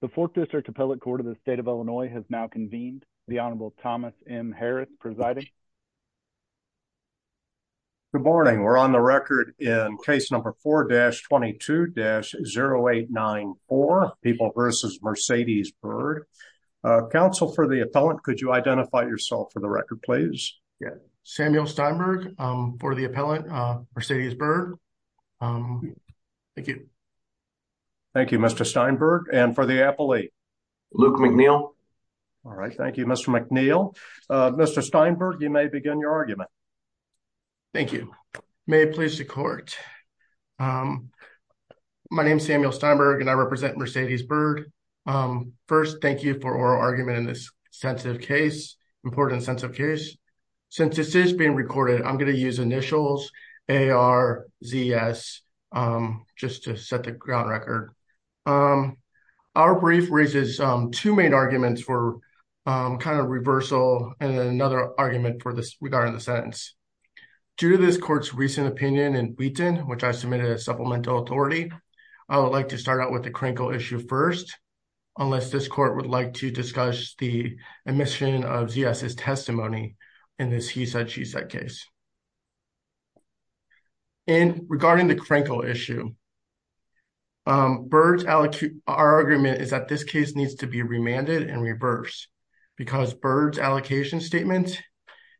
The Fourth District Appellate Court of the State of Illinois has now convened. The Honorable Thomas M. Harris presiding. Good morning. We're on the record in case number 4-22-0894, People v. Mercedes-Byrd. Counsel for the appellant, could you identify yourself for the record, please? Samuel Steinberg for the appellant, Mercedes-Byrd. Thank you. Thank you, Mr. Steinberg. And for the appellate? Luke McNeil. All right. Thank you, Mr. McNeil. Mr. Steinberg, you may begin your argument. Thank you. May it please the court. My name is Samuel Steinberg and I represent Mercedes-Byrd. First, thank you for oral argument in this sensitive case, important and sensitive case. Since this is being recorded, I'm going to use initials, A-R-Z-S, just to set the ground record. Our brief raises two main arguments for kind of reversal and then another argument regarding the sentence. Due to this court's recent opinion in Wheaton, which I submitted as supplemental authority, I would like to start out with the critical issue first, unless this court would like to discuss the case. And regarding the crinkle issue, our argument is that this case needs to be remanded and reversed because Byrd's allocation statement,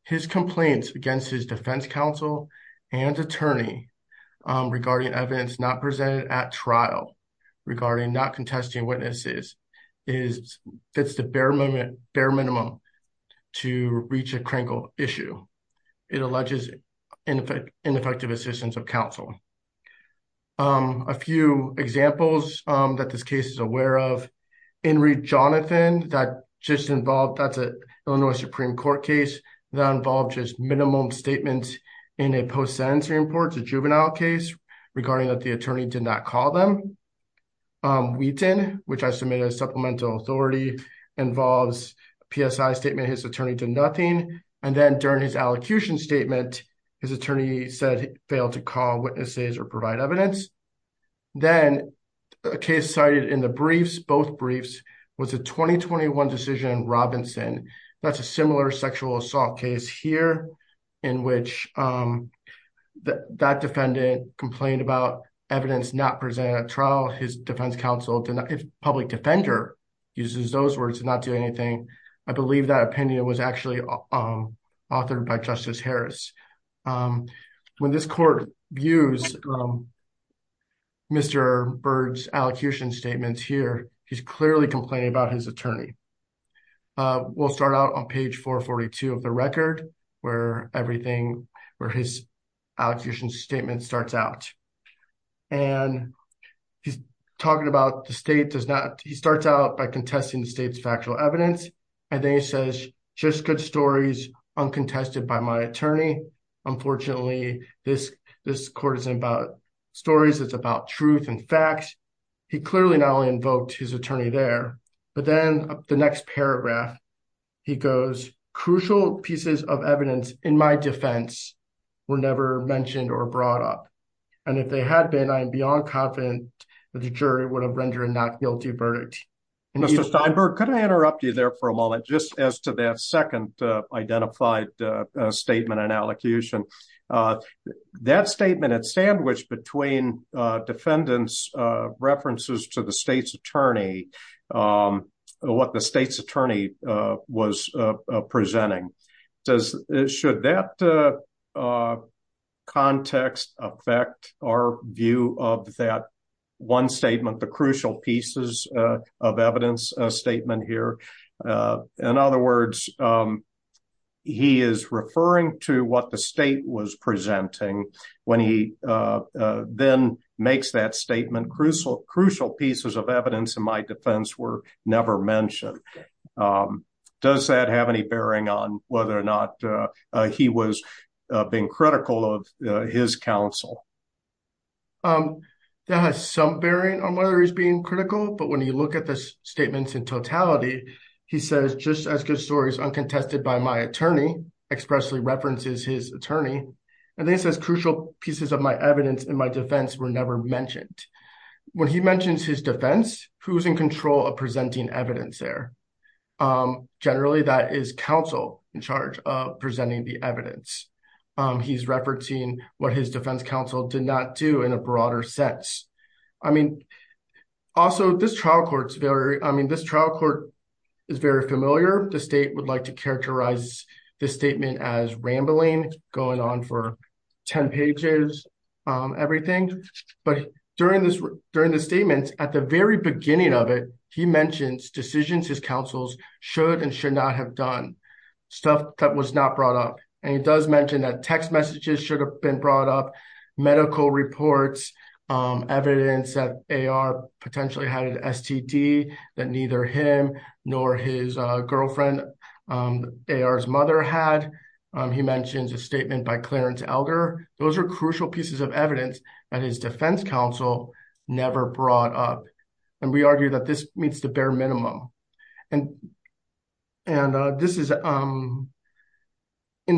his complaints against his defense counsel and attorney regarding evidence not presented at trial, regarding not contesting witnesses, is, fits the bare minimum to reach a crinkle issue. It alleges ineffective assistance of counsel. A few examples that this case is aware of, Henry Jonathan, that just involved, that's an Illinois Supreme Court case that involved just minimum statements in a post-sentencing report, juvenile case, regarding that the attorney did not call them. Wheaton, which I submitted as supplemental authority, involves PSI statement, his attorney did nothing. And then during his allocution statement, his attorney said he failed to call witnesses or provide evidence. Then a case cited in the briefs, both briefs, was a 2021 decision in Robinson. That's a similar sexual assault case here in which that defendant complained about evidence not presented at trial. His defense counsel did not, public defender uses those words, did not do anything. I believe that opinion was actually authored by Justice Harris. When this court views Mr. Byrd's allocation statements here, he's clearly complaining about his attorney. We'll start out on page 442 of the record where everything, where his allocation statement starts out. And he's talking about the state does not, he starts out by contesting the state's factual evidence. And then he says, just good stories uncontested by my attorney. Unfortunately, this court isn't about stories, it's about truth and facts. He clearly not only invoked his attorney there, but then the next paragraph, he goes, crucial pieces of evidence in my defense were never mentioned or brought up. And if they had been, I am beyond confident that the jury would have rendered a not guilty verdict. Mr. Steinberg, could I interrupt you there for a moment, just as to that identified statement and allocation. That statement had sandwiched between defendants' references to the state's attorney, what the state's attorney was presenting. Should that context affect our view of that one statement, the crucial pieces of evidence statement here? In other words, he is referring to what the state was presenting when he then makes that statement, crucial pieces of evidence in my defense were never mentioned. Does that have any bearing on whether or not he was being critical of his counsel? That has some bearing on whether he's being critical, but when you look at the statements in totality, he says, just as good stories uncontested by my attorney, expressly references his attorney. And then he says, crucial pieces of my evidence in my defense were never mentioned. When he mentions his defense, who's in control of presenting evidence there? Generally, that is counsel in charge of presenting the evidence. He's referencing what his defense counsel did not do in a broader sense. Also, this trial court is very familiar. The state would like to characterize this statement as rambling, going on for 10 pages, everything. But during the statements, at the very beginning of it, he mentions decisions his counsels should and should not have done, stuff that was not brought up. And he does mention that messages should have been brought up, medical reports, evidence that AR potentially had an STD that neither him nor his girlfriend, AR's mother had. He mentions a statement by Clarence Elder. Those are crucial pieces of evidence that his defense counsel never brought up. And we argue that this meets the bare minimum. And this is, in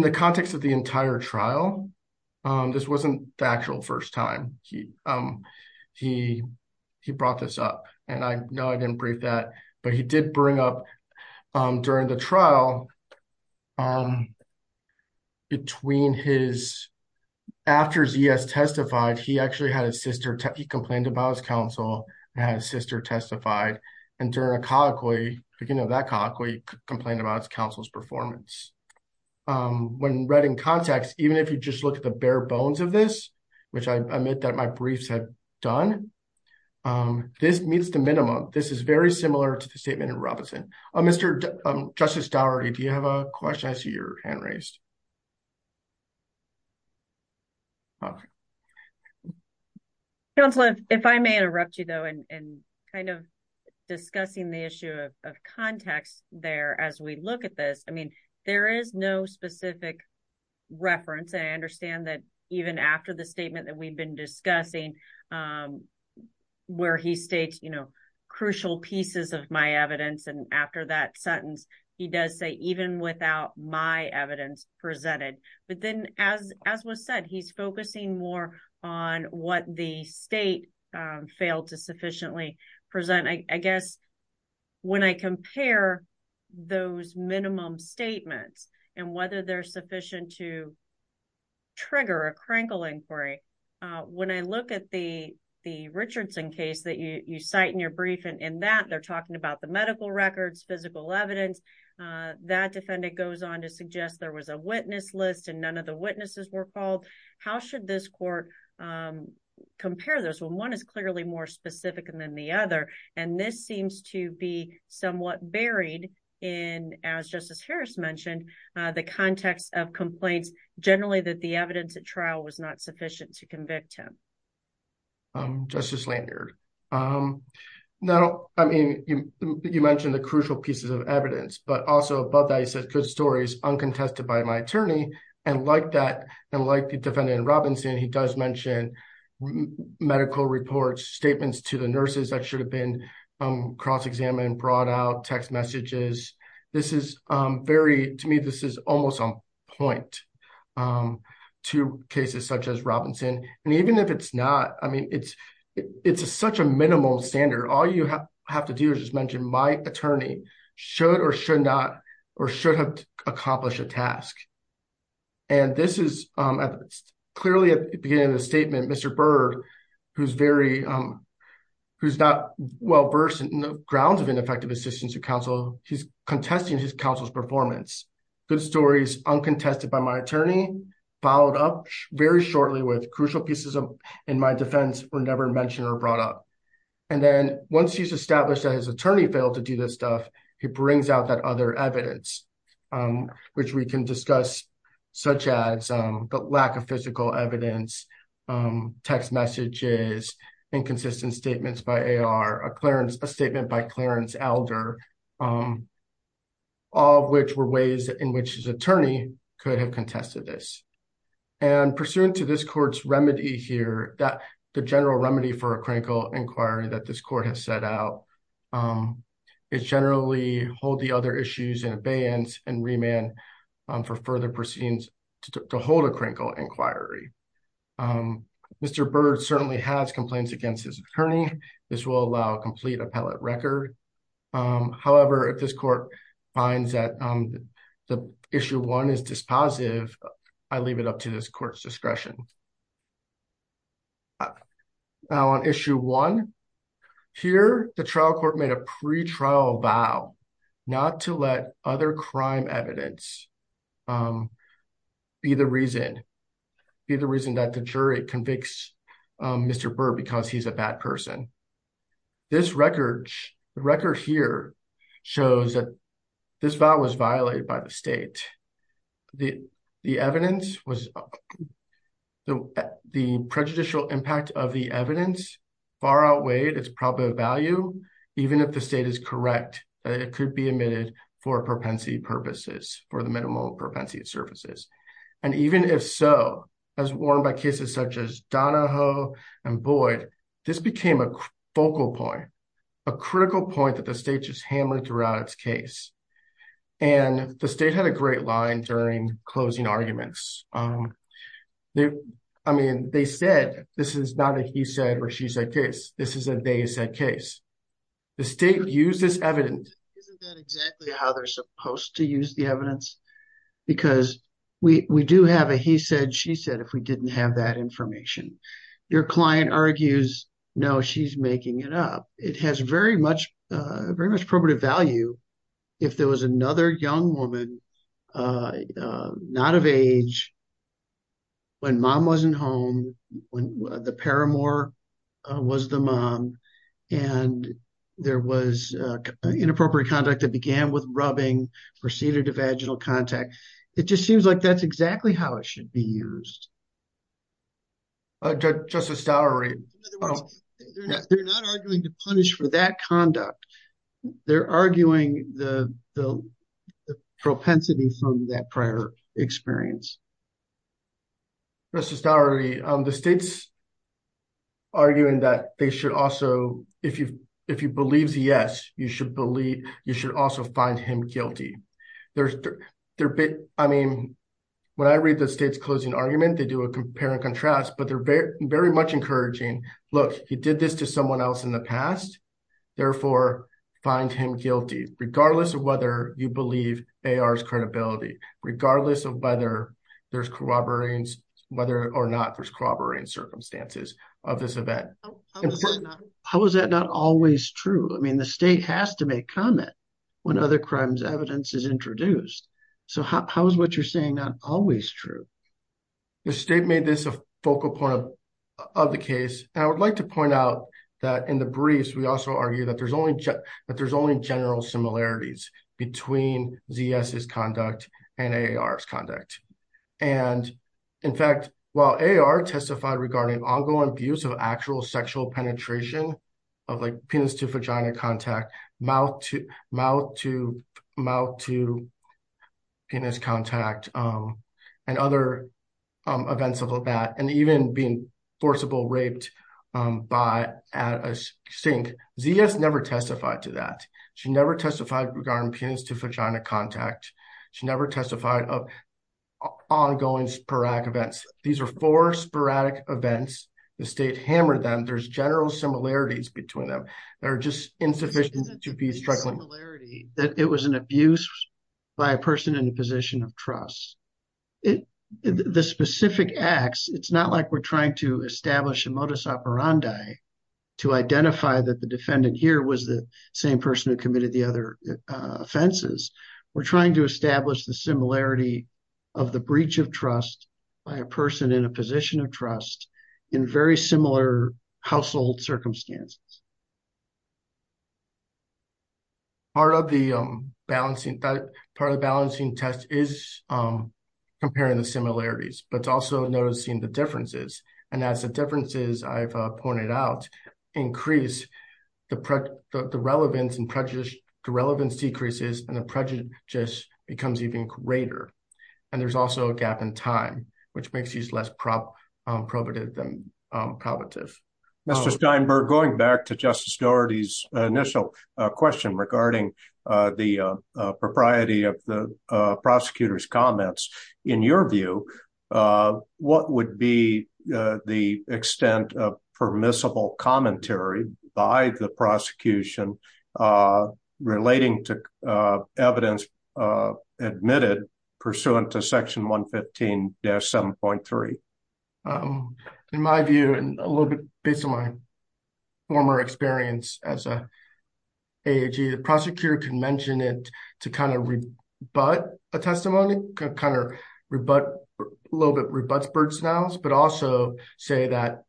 the context of the entire trial, this wasn't the actual first time he brought this up. And I know I didn't brief that, but he did bring up during the trial between his, after Z.S. testified, he actually had his sister, he complained about his counsel and had his sister testified. And during a colloquy, beginning of that colloquy, he complained about his counsel's performance. When read in context, even if you just look at the bare bones of this, which I admit that my briefs have done, this meets the minimum. This is very similar to the statement in Robinson. Mr. Justice Daugherty, do you have a question? I see your hand raised. Counselor, if I may interrupt you though, and kind of discussing the issue of context there, as we look at this, I mean, there is no specific reference. And I understand that even after the statement that we've been discussing, where he states, you know, crucial pieces of my evidence, and after that sentence, he does say, even without my evidence, there is no evidence. But then, as was said, he's focusing more on what the state failed to sufficiently present. I guess when I compare those minimum statements and whether they're sufficient to trigger a crinkle inquiry, when I look at the Richardson case that you cite in your brief, and in that, they're talking about the medical records, physical evidence, that defendant goes on to suggest there was a witness list and none of the witnesses were fault. How should this court compare those when one is clearly more specific than the other? And this seems to be somewhat buried in, as Justice Harris mentioned, the context of complaints, generally that the evidence at trial was not sufficient to convict him. Justice Lanyard, now, I mean, you mentioned the crucial pieces of evidence, but also above that, he says, good stories uncontested by my attorney. And like that, and like the defendant in Robinson, he does mention medical reports, statements to the nurses that should have been cross-examined, brought out, text messages. This is very, to me, this is almost on point to cases such as Robinson. And even if it's not, I mean, it's such a minimal standard. All you have to do is just mention my attorney should or should not, or should have accomplished a task. And this is clearly at the beginning of the statement, Mr. Byrd, who's very, who's not well-versed in the grounds of ineffective assistance to counsel, he's contesting his counsel's performance. Good stories uncontested by my attorney, followed up very shortly with crucial pieces in my defense were never mentioned or brought up. And then once he's established that his attorney failed to do this stuff, he brings out that other evidence, which we can discuss such as the lack of physical evidence, text messages, inconsistent statements by AR, a statement by Clarence Elder, all of which were ways in which his attorney could have contested this. And pursuant to this court's remedy here, the general remedy for a critical inquiry that this court has set out is generally hold the other issues in abeyance and remand for further proceedings to hold a critical inquiry. Mr. Byrd certainly has complaints against his attorney. This will allow a complete record. However, if this court finds that the issue one is dispositive, I leave it up to this court's discretion. Now on issue one, here, the trial court made a pretrial vow not to let other crime evidence be the reason, be the reason that the jury convicts Mr. Byrd because he's a bad person. This record here shows that this vow was violated by the state. The evidence was, the prejudicial impact of the evidence far outweighed its probable value, even if the state is correct that it could be admitted for propensity purposes, for the minimal propensity it surfaces. And even if so, as warned by cases such as Donahoe and Boyd, this became a focal point, a critical point that the state just hammered throughout its case. And the state had a great line during closing arguments. I mean, they said, this is not a he said or she said case. This is a they said case. The state used this evidence. Isn't that exactly how they're supposed to use the evidence? Because we do have a he said, she said, if we didn't have that information. Your client argues, no, she's making it up. It has very much, very much probative value if there was another young woman, not of age, when mom wasn't home, when the paramour was the mom, and there was inappropriate conduct that began with rubbing, proceeded to vaginal contact. It just seems like that's exactly how it should be used. They're not arguing to punish for that conduct. They're arguing the propensity from that prior experience. Mr. Stowery, the state's arguing that they should also, if you if you believe the yes, you should believe you should also find him guilty. There's their bit. I mean, when I read the state's closing argument, they do a compare and contrast, but they're very much encouraging. Look, he did this to someone else in the past. Therefore, find him guilty, regardless of whether you believe AR's credibility, regardless of whether there's corroborating, whether or not there's corroborating circumstances of this event. How is that not always true? I mean, the state has to make comment when other crimes evidence is introduced. So how is what you're saying not always true? The state made this a focal point of the case. I would like to point out that in the briefs, also argue that there's only general similarities between ZS's conduct and AR's conduct. And in fact, while AR testified regarding ongoing abuse of actual sexual penetration of like penis to vagina contact, mouth to mouth to mouth to penis contact and other events of that, and even being forcible raped by at a sink, ZS never testified to that. She never testified regarding penis to vagina contact. She never testified of ongoing sporadic events. These are four sporadic events. The state hammered them. There's general similarities between them that are just insufficient to be struggling. That it was an abuse by a person in a position of trust. The specific acts, it's not like we're trying to establish a modus operandi to identify that the defendant here was the same person who committed the other offenses. We're trying to establish the similarity of the breach of trust by a person in a position of trust in very similar household circumstances. Part of the balancing test is comparing the similarities, but it's also noticing the differences. And as the differences I've pointed out, increase the relevance and prejudice, the relevance decreases and the prejudice becomes even greater. And there's also a gap in time, which makes these less probative than probative. Mr. Steinberg, going back to Justice Doherty's initial question regarding the propriety of the prosecutor's comments, in your view, what would be the extent of permissible commentary by the prosecution relating to evidence admitted pursuant to section 115-7.3? In my view, and a little bit based on my former experience as an AAG, the prosecutor can mention it to kind of rebut a testimony, kind of rebut, a little bit rebut Bird-Snells, but also say that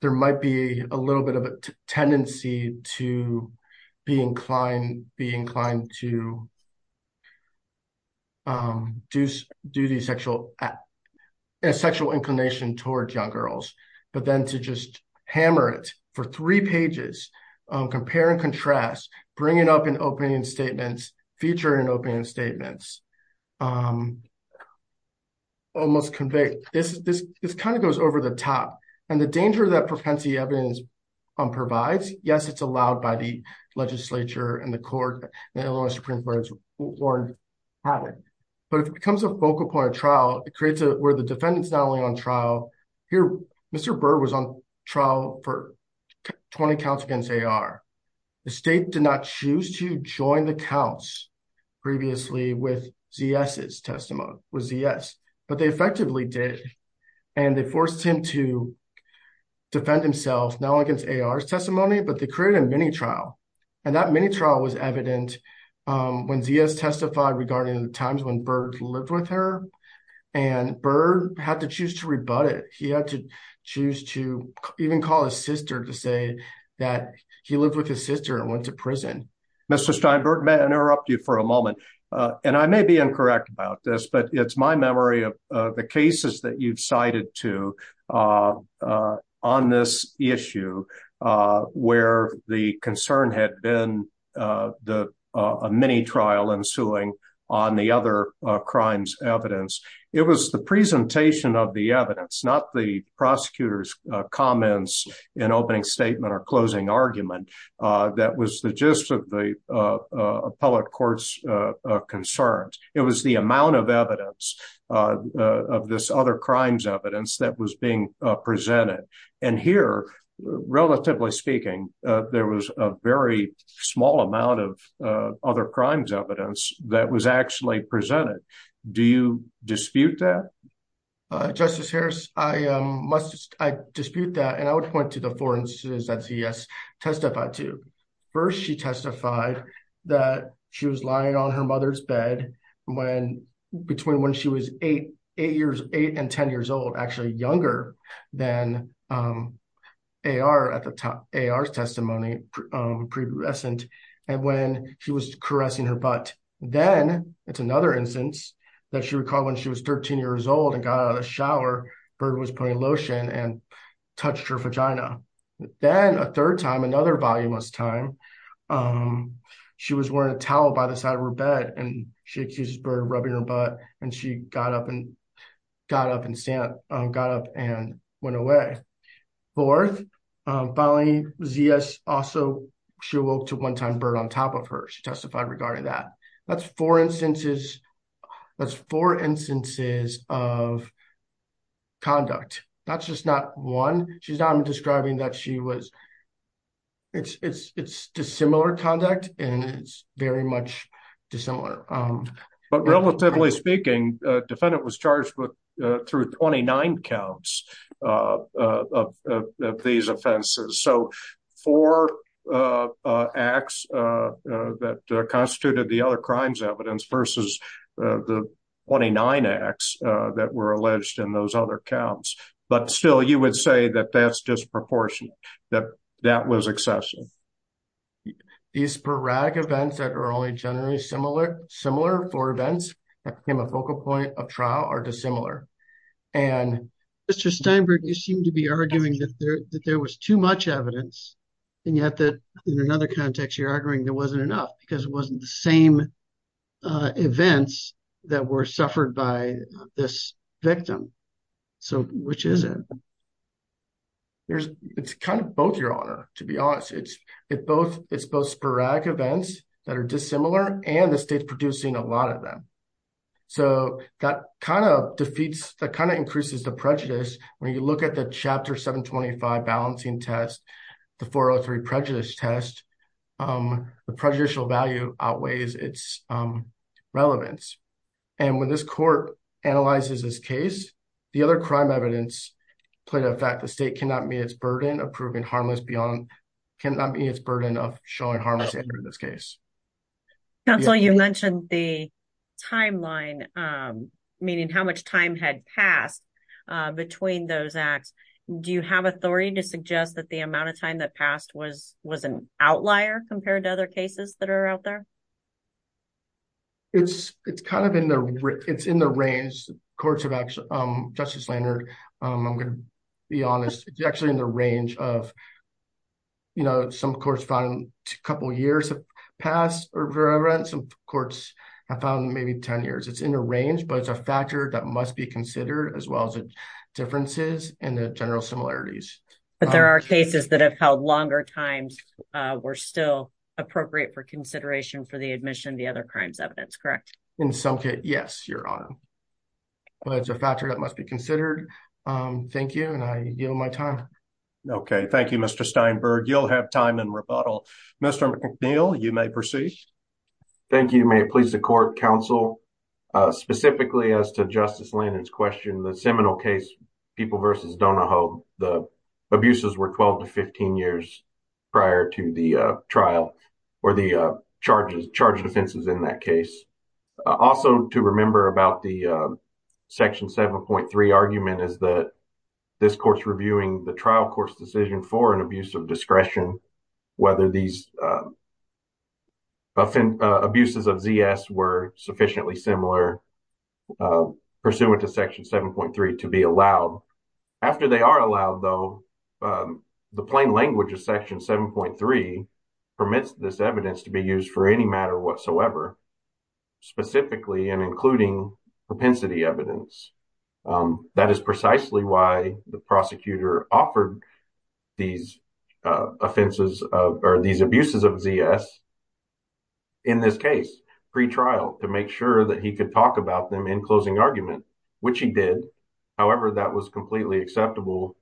there might be a little bit of a tendency to be inclined to a sexual inclination towards young girls. But then to just hammer it for three pages, compare and contrast, bring it up in opening statements, feature in opening statements, almost convey, this kind of goes over the top. And the danger that propensity evidence provides, yes, it's allowed by the legislature and the court, and the Illinois Supreme Court warned about it. But if it becomes a focal point of trial, it creates a, where the defendant's not only on trial, here, Mr. Bird was on trial for 20 counts against AR. The state did not choose to ZS's testimony, it was ZS, but they effectively did. And they forced him to defend himself, not only against AR's testimony, but they created a mini trial. And that mini trial was evident when ZS testified regarding the times when Bird lived with her. And Bird had to choose to rebut it. He had to choose to even call his sister to say that he lived with his sister and went to prison. Mr. Steinberg, may I interrupt you for a moment? And I may be incorrect about this, but it's my memory of the cases that you've cited to on this issue, where the concern had been the mini trial ensuing on the other crimes evidence. It was the presentation of the evidence, not the prosecutor's comments in opening statement or closing argument, that was the gist of the appellate court's concerns. It was the amount of evidence of this other crimes evidence that was being presented. And here, relatively speaking, there was a very small amount of other crimes evidence that was actually presented. Do you dispute that? Justice Harris, I dispute that. And I would point to the four instances that ZS testified to. First, she testified that she was lying on her mother's bed between when she was eight and 10 years old, actually younger than AR at the time, AR's testimony, and when she was caressing her butt. Then it's another instance that she recalled when she was 13 years old and got out of the shower, Bird was putting lotion and touched her vagina. Then a third time, another voluminous time, she was wearing a towel by the side of her bed and she accused Bird of rubbing her butt and she got up and went away. Fourth, finally, ZS also, she awoke to one time Bird on top of her, she testified regarding that. That's four instances of conduct. That's just not one. She's not describing that she was, it's dissimilar conduct and it's very much dissimilar. But relatively speaking, defendant was charged with through 29 counts of these offenses. So four acts that constituted the other crimes evidence versus the 29 acts that were alleged in those other counts. But still you would say that that's disproportionate, that that was excessive. These sporadic events that are only generally similar for events that became a focal point of trial are dissimilar. Mr. Steinberg, you seem to be arguing that there was too much evidence and yet that in another context, you're arguing there wasn't enough because it wasn't the same events that were suffered by this victim. So which is it? It's kind of both, your honor, to be honest. It's both sporadic events that are dissimilar and the state's producing a lot of them. So that kind of defeats, that kind of increases the prejudice when you look at the balancing test, the 403 prejudice test, the prejudicial value outweighs its relevance. And when this court analyzes this case, the other crime evidence played a fact. The state cannot meet its burden of proving harmless beyond, cannot meet its burden of showing harmless in this case. Counsel, you mentioned the timeline, meaning how much time had passed between those acts. Do you have authority to suggest that the amount of time that passed was an outlier compared to other cases that are out there? It's kind of in the, it's in the range, courts have actually, Justice Leonard, I'm going to be honest, it's actually in the range of, you know, some courts found a couple of years have passed. Some courts have found maybe 10 years. It's in the range, but it's a factor that must be considered as well as the differences and the general similarities. But there are cases that have held longer times were still appropriate for consideration for the admission of the other crimes evidence, correct? In some cases, yes, Your Honor. But it's a factor that must be considered. Thank you. And I yield my time. Okay. Thank you, Mr. Steinberg. You'll have time in rebuttal. Mr. McNeil, you may proceed. Thank you. May it please the court, counsel, specifically as to Justice Leonard's question, the Seminole case, People v. Donahoe, the abuses were 12 to 15 years prior to the trial or the charges, charges offenses in that case. Also to remember about the section 7.3 argument is that this court's reviewing the trial court's decision for an abuse of discretion, whether these abuses of ZS were sufficiently similar pursuant to section 7.3 to be allowed. After they are allowed, though, the plain language of section 7.3 permits this evidence to be used for any matter whatsoever, specifically and including propensity evidence. That is precisely why the prosecutor offered these offenses or these abuses of ZS in this case, pre-trial, to make sure that he could talk about them in closing argument, which he did. However, that was completely acceptable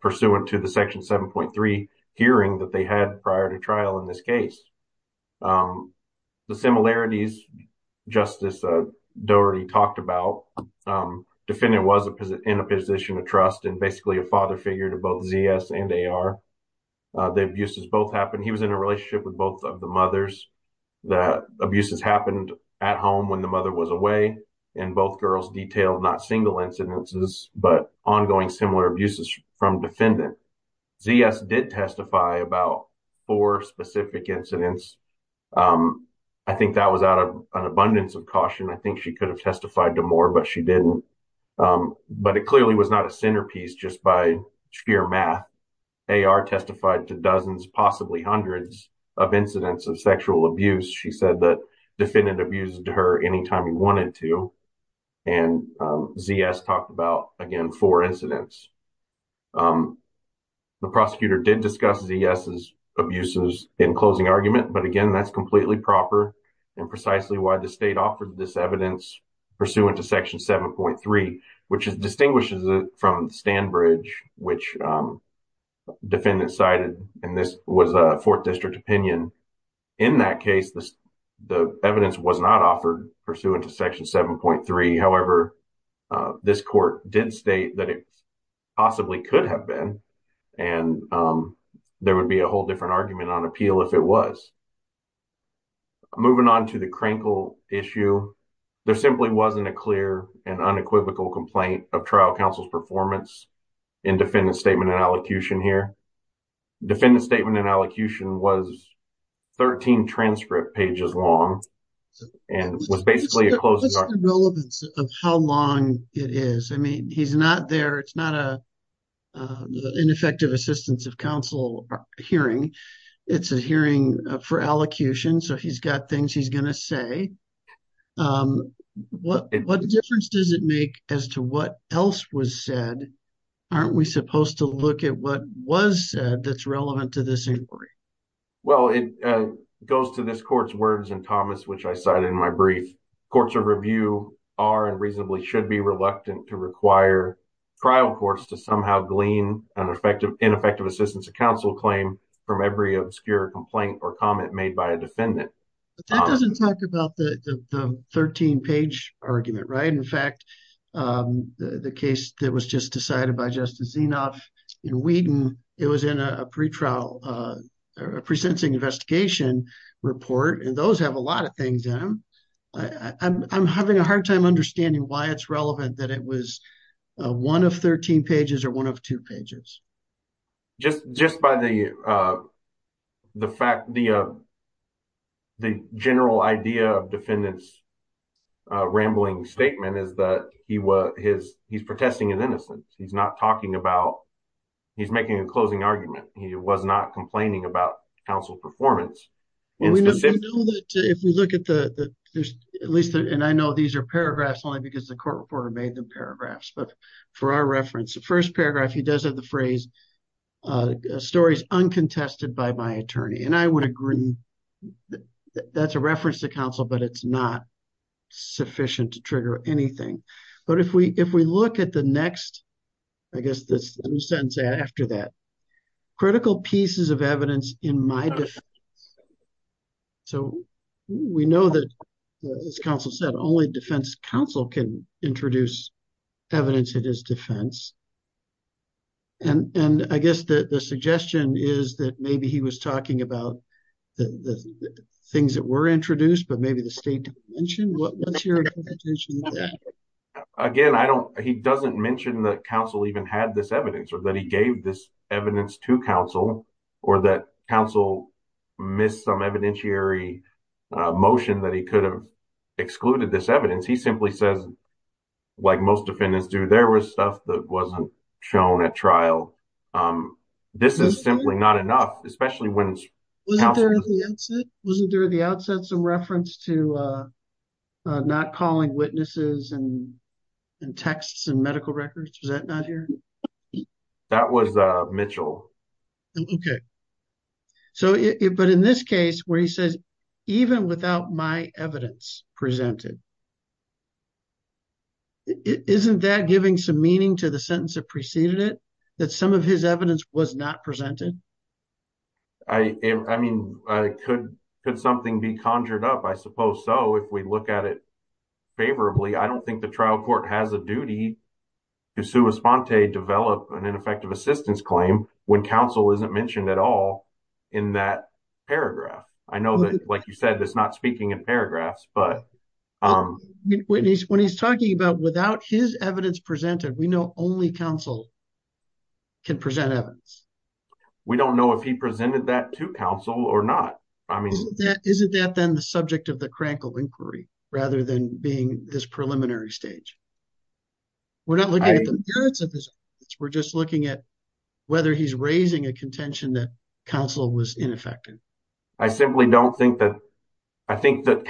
pursuant to the section 7.3 hearing that they had prior to trial in this case. The similarities Justice Dougherty talked about, defendant was in a position of trust and basically a father figure to both ZS and AR. The abuses both happened, he was in a relationship with both of the mothers. The abuses happened at home when the mother was away and both girls detailed not single incidences but ongoing similar abuses from defendant. ZS did testify about four incidents. I think that was out of an abundance of caution. I think she could have testified to more but she didn't. But it clearly was not a centerpiece just by sheer math. AR testified to dozens, possibly hundreds of incidents of sexual abuse. She said that defendant abused her anytime he wanted to and ZS talked about, again, four incidents. The prosecutor did discuss ZS's in closing argument. But again, that's completely proper and precisely why the state offered this evidence pursuant to section 7.3, which distinguishes it from Standbridge, which defendant cited and this was a fourth district opinion. In that case, the evidence was not offered pursuant to section 7.3. However, this court did state that it possibly could have been and there would be a whole different argument on appeal if it was. Moving on to the Krinkle issue, there simply wasn't a clear and unequivocal complaint of trial counsel's performance in defendant's statement and allocution here. Defendant's statement and allocution was 13 transcript pages long and was basically a closed argument. Relevance of how long it is. I mean, he's not there. It's not a ineffective assistance of counsel hearing. It's a hearing for allocution. So he's got things he's going to say. What difference does it make as to what else was said? Aren't we supposed to look at what was said that's relevant to this inquiry? Well, it goes to this court's words and Thomas, which I cited in my brief. Courts of review are and reasonably should be reluctant to require trial courts to somehow glean an ineffective assistance of counsel claim from every obscure complaint or comment made by a defendant. But that doesn't talk about the 13-page argument, right? In fact, the case that was just decided by Justice Zinov in Whedon, it was in a pre-trial, pre-sentencing investigation report. And those have a lot of things in them. I'm having a hard time understanding why it's relevant that it was one of 13 pages or one of two pages. Just by the general idea of defendant's rambling statement is that he's protesting his innocence. He's not talking about, he's making a closing argument. He was not complaining about counsel performance. We know that if we look at the, at least, and I know these are paragraphs only because the court reporter made them paragraphs. But for our reference, the first paragraph, he does have the phrase, stories uncontested by my attorney. And I would agree that's a reference to counsel, but it's not sufficient to trigger anything. But if we look at the next, I guess this sentence after that, critical pieces of evidence in my defense. So we know that as counsel said, only defense counsel can introduce evidence that is defense. And I guess the suggestion is that maybe he was talking about the things that were introduced, but maybe the state didn't mention. What's your interpretation of that? Again, I don't, he doesn't mention that counsel even had this evidence or that he gave this evidence to counsel or that counsel missed some evidentiary motion that he could have excluded this evidence. He simply says, like most defendants do, there was stuff that wasn't shown at trial. This is simply not enough, especially when- Wasn't there at the outset some reference to not calling witnesses and texts and medical records? Was that not here? That was Mitchell. Okay. So, but in this case where he says, even without my evidence presented, isn't that giving some meaning to the sentence that preceded it? That some of his evidence was not presented? I mean, could something be conjured up? I suppose so, if we look at it favorably. I don't think the trial court has a duty to sua sponte develop an ineffective assistance claim when counsel isn't mentioned at all in that paragraph. I know that, like you said, that's not speaking in paragraphs, but- When he's talking about without his evidence presented, we know only counsel can present evidence. We don't know if he presented that to counsel or not. I mean- Isn't that then the subject of the Krankel inquiry, rather than being this preliminary stage? We're not looking at the merits of this, we're just looking at whether he's raising a contention that counsel was ineffective. I simply don't think that, I think that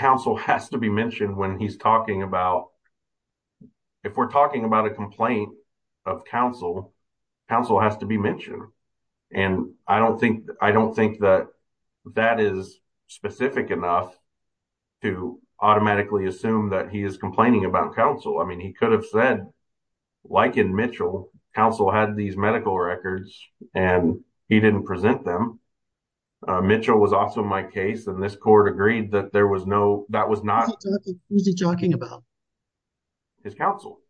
talking about, if we're talking about a complaint of counsel, counsel has to be mentioned. And I don't think that that is specific enough to automatically assume that he is complaining about counsel. I mean, he could have said, like in Mitchell, counsel had these medical records and he didn't present them. Mitchell was also in my case and this court agreed that there was no, that was not- Who's he talking about? His counsel.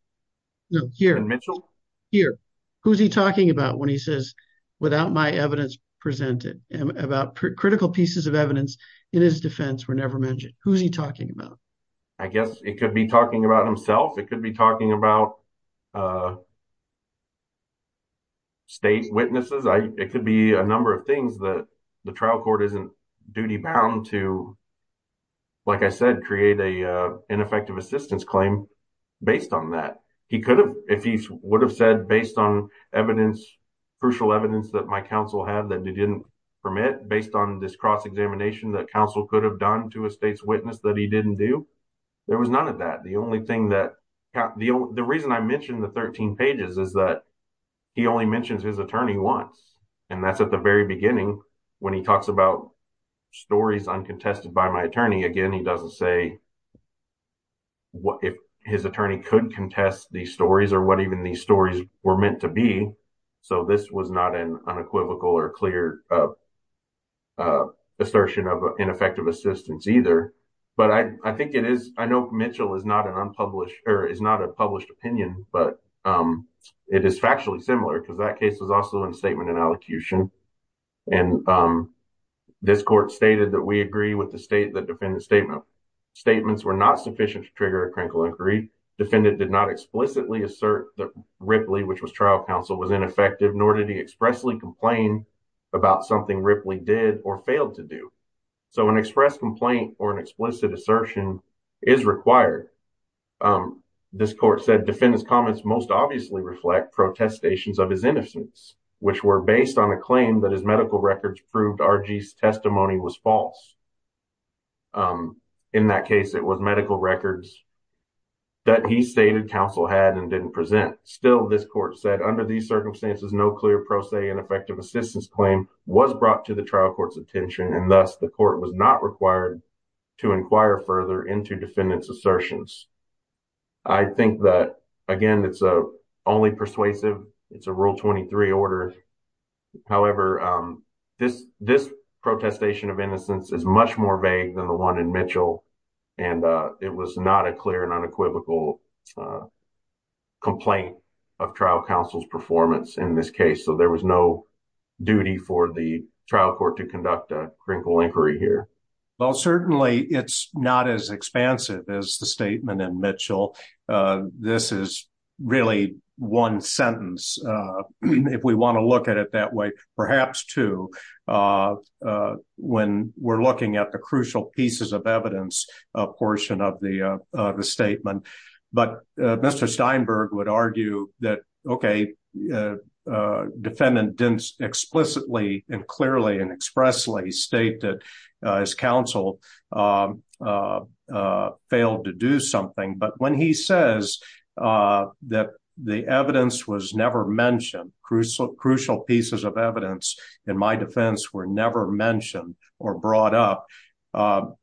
No, here- In Mitchell? Here. Who's he talking about when he says, without my evidence presented, about critical pieces of evidence in his defense were never mentioned? Who's he talking about? I guess it could be talking about himself. It could be talking about state witnesses. It could be a number of things that the trial court isn't duty bound to, like I said, create a ineffective assistance claim based on that. He could have, if he would have said, based on evidence, crucial evidence that my counsel had that they didn't permit, based on this cross-examination that counsel could have done to a state's witness that he didn't do, there was none of that. The only thing that, the reason I mentioned the 13 pages is that he only mentions his attorney once. And that's at the very beginning when he talks about stories uncontested by my attorney. Again, he doesn't say if his attorney could contest these stories or what even these stories were meant to be. So this was not an unequivocal or clear assertion of ineffective assistance either. But I think it is, I know Mitchell is not an unpublished, or is not a published opinion, but it is factually similar because that case was also in statement and allocution. And this court stated that we agree with the defendant's statement. Statements were not sufficient to trigger a critical inquiry. Defendant did not explicitly assert that Ripley, which was trial counsel, was ineffective, nor did he expressly complain about something Ripley did or failed to do. So an express complaint or an explicit assertion is required. This court said, defendant's comments most obviously reflect protestations of his innocence, which were based on a claim that his medical records proved R.G.'s testimony was false. In that case, it was medical records that he stated counsel had and didn't present. Still, this court said, under these circumstances, no clear pro se and effective assistance claim was brought to the trial court's attention, and thus the court was not required to inquire further into defendant's However, this protestation of innocence is much more vague than the one in Mitchell, and it was not a clear and unequivocal complaint of trial counsel's performance in this case. So there was no duty for the trial court to conduct a critical inquiry here. Well, certainly it's not as expansive as the statement in Mitchell. This is really one sentence, if we want to look at it that way, perhaps two, when we're looking at the crucial pieces of evidence portion of the statement. But Mr. Steinberg would argue that, okay, defendant didn't explicitly and clearly and expressly state that his counsel failed to do something. But when he says that the evidence was never mentioned, crucial pieces of evidence, in my defense, were never mentioned or brought up,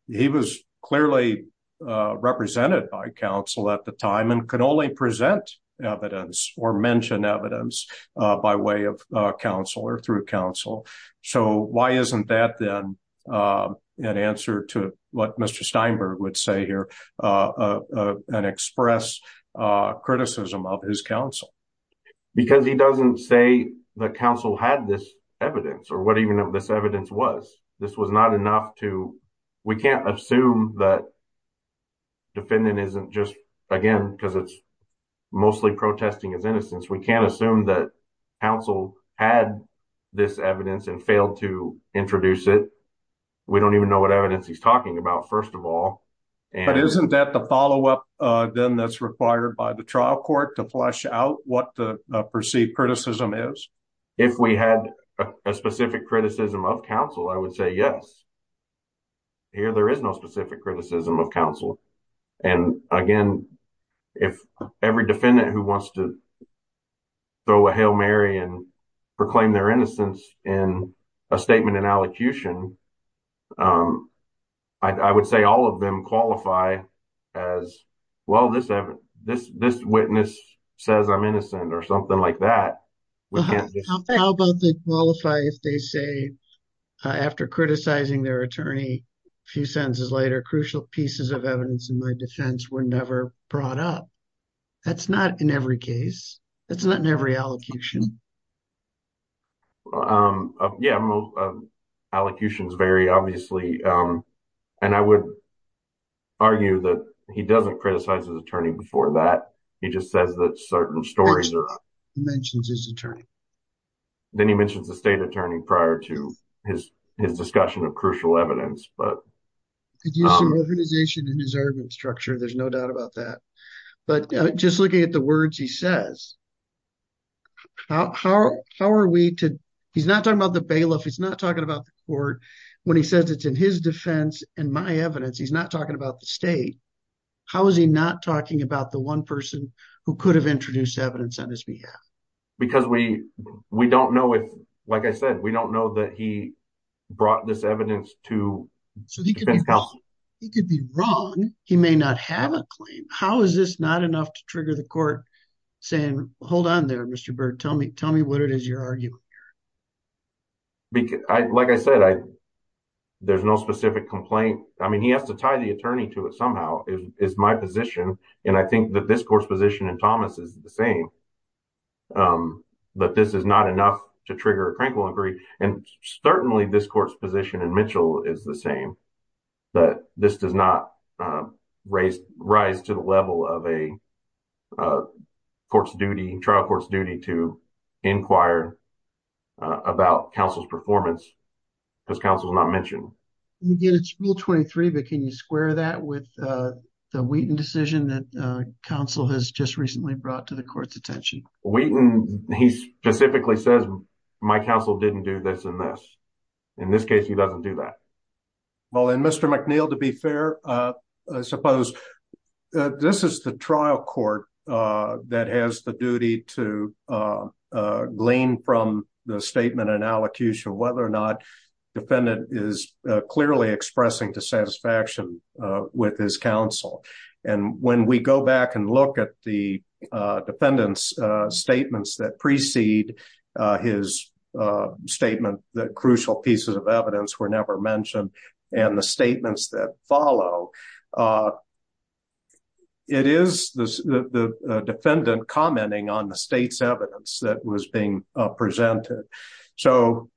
he was clearly represented by counsel at the time and could only present evidence or mention evidence by way of what Mr. Steinberg would say here and express criticism of his counsel. Because he doesn't say that counsel had this evidence or what even this evidence was. This was not enough to, we can't assume that defendant isn't just, again, because it's mostly protesting his innocence. We can't assume that counsel had this evidence and failed to present it. So, I think that's what we're talking about, first of all. But isn't that the follow-up, then, that's required by the trial court to flesh out what the perceived criticism is? If we had a specific criticism of counsel, I would say yes. Here, there is no specific criticism of counsel. And again, if every defendant who wants to throw a Hail Mary and proclaim their innocence in a statement in allocution, I would say all of them qualify as, well, this witness says I'm innocent or something like that. How about they qualify if they say, after criticizing their attorney a few sentences later, crucial pieces of evidence in my defense were never brought up? That's not in every case. That's not in every allocution. Yeah, allocutions vary, obviously. And I would argue that he doesn't criticize his attorney before that. He just says that certain stories are- First of all, he mentions his attorney. Then he mentions the state attorney prior to his discussion of crucial evidence. He could use some organization in his argument structure, there's no doubt about that. But just looking at the words he says, he's not talking about the bailiff, he's not talking about the court. When he says it's in his defense and my evidence, he's not talking about the state. How is he not talking about the one person who could have introduced evidence on his behalf? Because we don't know if, like I said, we don't know that he brought this evidence to- He could be wrong. He may not have a claim. How is this not enough to trigger the court saying, hold on there, Mr. Byrd, tell me what it is you're arguing here? Like I said, there's no specific complaint. I mean, he has to tie the attorney to it somehow, is my position. And I think that this court's position in Thomas is the same, that this is not enough to trigger a Crankwell Inquiry. And certainly this court's position in Mitchell is the same, that this does not rise to the level of a trial court's duty to inquire about counsel's performance, because counsel's not mentioned. And again, it's Rule 23, but can you square that with the Wheaton decision that counsel has just recently brought to the court's attention? Wheaton, he specifically says, my counsel didn't do this and this. In this case, he doesn't do that. Well, and Mr. McNeil, to be fair, I suppose this is the trial court that has the duty to glean from the statement and allocution whether or not defendant is clearly expressing dissatisfaction with his counsel. And when we go back and look at the defendant's statements that precede his statement, that crucial pieces of evidence were never mentioned, and the statements that follow, it is the defendant commenting on the state's evidence that was being presented. So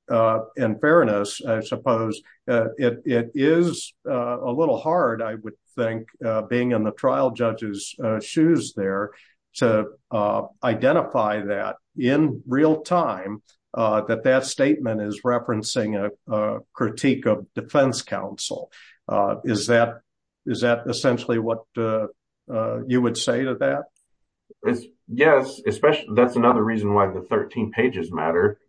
in fairness, I suppose it is a little hard, I would think, being in the trial judge's shoes there, to identify that in real time, that that statement is referencing a critique of defense counsel. Is that essentially what you would say to that? Yes, that's another reason why the 13 pages matter.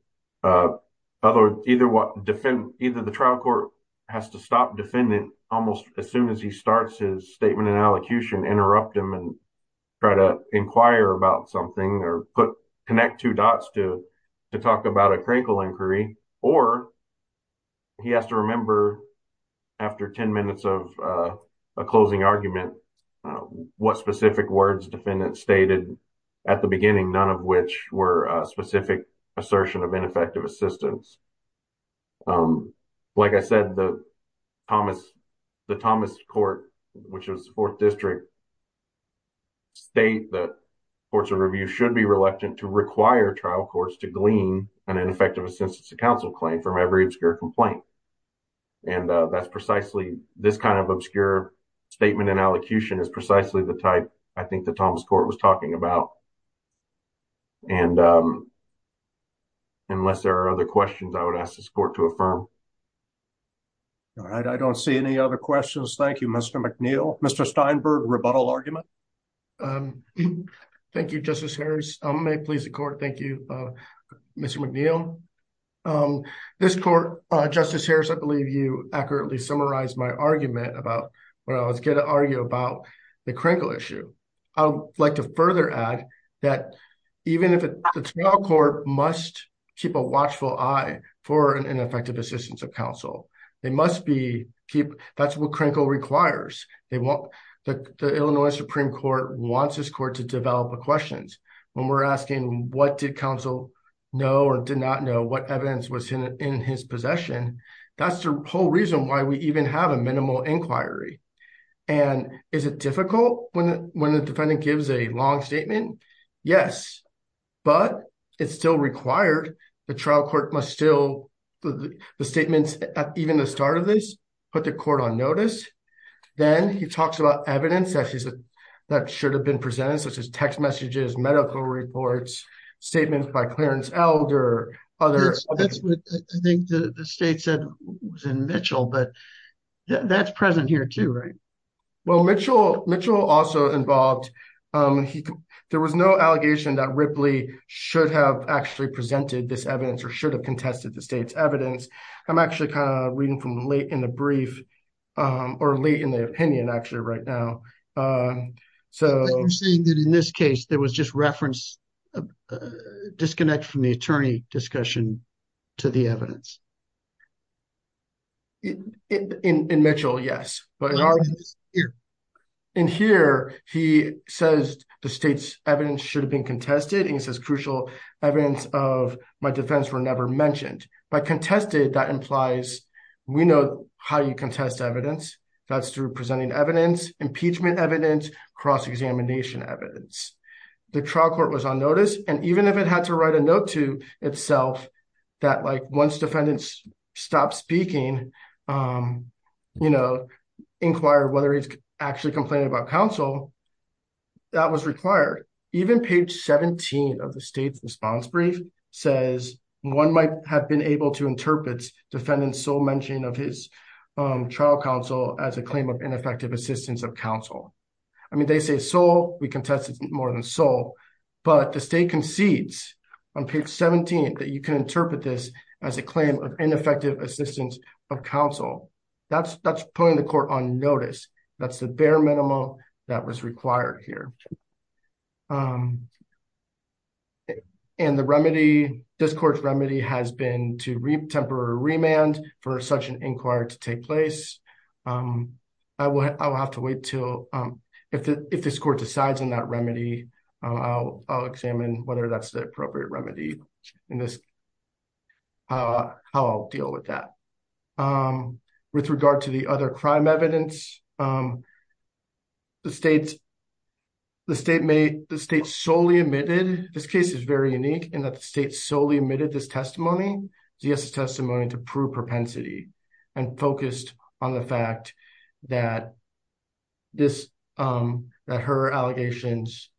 Either the trial court has to stop defendant almost as soon as he starts his statement and allocution, interrupt him and try to inquire about something or connect two dots to talk about a crankle inquiry, or he has to remember after 10 minutes of a closing argument what specific words defendant stated at the beginning, none of which were specific assertion of ineffective assistance. Like I said, the Thomas Court, which is the fourth district, state that courts of review should be reluctant to require trial courts to glean an ineffective assistance to counsel claim from every obscure complaint. And that's precisely this kind of obscure statement and allocution is precisely the type I think the Thomas Court was talking about. And unless there are other questions, I would ask this court to affirm. All right, I don't see any other questions. Thank you, Mr. McNeil. Mr. Steinberg, rebuttal argument. Thank you, Justice Harris. I may please the court. Thank you, Mr. McNeil. This court, Justice Harris, I believe you accurately summarized my argument about when I was going to argue about the crankle issue. I would like to further add that even if the trial court must keep a watchful eye for an ineffective assistance of counsel, they must be keep, that's what crankle requires. The Illinois Supreme Court wants this court to develop a questions. When we're asking what did counsel know or did not know what evidence was in his possession, that's the whole reason why we even have a minimal inquiry. And is it difficult when the defendant gives a long statement? Yes, but it's still required. The trial court must still, the statements at even the start of this, put the court on notice. Then he talks about evidence that should have been presented such as text messages, medical reports, statements by Clarence Elder. That's what I think the state said was in Mitchell, but that's present here too, right? Well, Mitchell also involved, there was no allegation that Ripley should have actually presented this evidence or should have contested the state's evidence. I'm actually kind of reading from late in the brief or late in the opinion actually right now. So you're saying that in this case, there was just reference disconnect from the attorney discussion to the evidence? In Mitchell, yes, but in here he says the state's evidence should have been contested and he says crucial evidence of my defense were never mentioned. By contested, that implies we know how you contest evidence. That's through presenting evidence, impeachment evidence, cross-examination evidence. The trial court was on notice and even if it had to write a note to itself that like once defendants stop speaking, inquire whether he's actually complaining about counsel, that was required. Even page 17 of the state's response brief says one might have been able to interpret defendant's sole mention of his trial counsel as a claim of ineffective assistance of counsel. I mean, they say sole, we contested more than sole, but the state concedes on page 17 that you can interpret this as a claim of ineffective assistance of counsel. That's putting the court on notice. That's the bare minimum that was required here. And the remedy, this court's remedy has been to temporary remand for such an inquiry to take place. I will have to wait till, if this court decides on that remedy, I'll examine whether that's the appropriate remedy in this, how I'll deal with that. With regard to the other crime evidence, the state solely admitted, this case is very unique in that the state solely admitted this testimony, Zia's testimony to prove propensity and focused on the fact that her allegations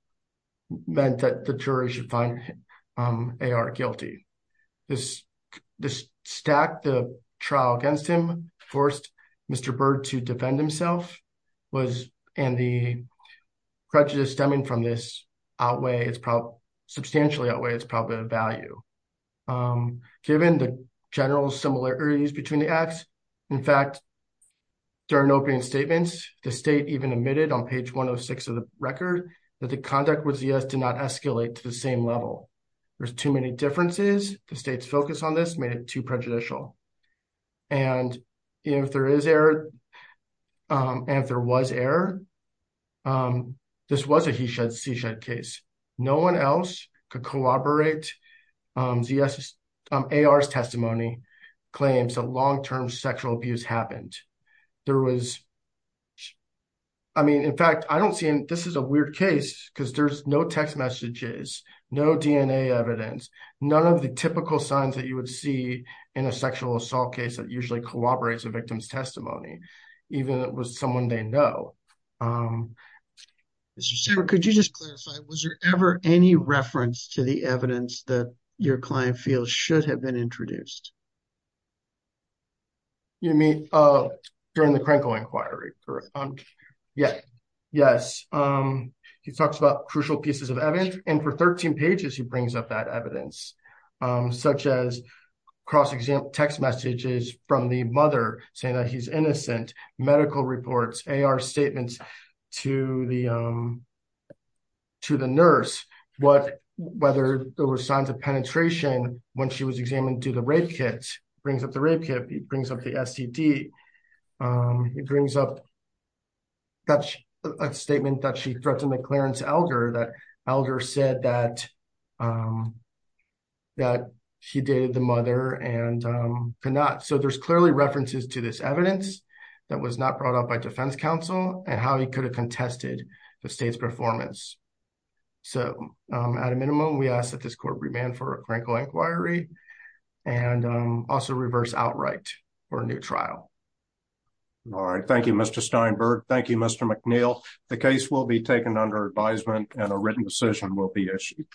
meant that the jury should find A.R. guilty. This stacked the trial against him, forced Mr. Byrd to defend himself, and the prejudice stemming from this outweigh, substantially outweigh its probable value. Given the general similarities between the acts, in fact, during opening statements, the state even admitted on page 106 of the record that the conduct with Zia did not escalate to the same level. There's too many differences. The state's focus on this made it too prejudicial. And if there is error, and if there was error, this was a he shed, she shed case. No one else could collaborate Zia's, A.R.'s testimony claims that long-term sexual abuse happened. There was, I mean, in fact, I don't see, this is a weird case because there's no text messages, no DNA evidence, none of the typical signs that you would see in a sexual assault case that usually corroborates a victim's testimony, even if it was someone they know. Mr. Sarah, could you just clarify, was there ever any reference to the evidence that your client feels should have been introduced? You mean during the Krenkel inquiry, correct? Yes. He talks about crucial pieces of evidence, and for 13 pages, he brings up that evidence, such as cross-example text messages from the mother saying that he's innocent, medical reports, A.R. statements to the nurse, whether there were signs of penetration when she was examined to the rape kit, brings up the rape kit, brings up the STD. It brings up a statement that she threatened the clearance elder, that elder said that he dated the mother and could not. So, there's clearly references to this evidence that was not brought up by defense counsel and how he could have contested the state's performance. So, at a minimum, we ask that this court remand for a Krenkel inquiry and also reverse outright for a new trial. All right. Thank you, Mr. Steinberg. Thank you, Mr. McNeil. The case will be taken under advisement and a written decision will be issued.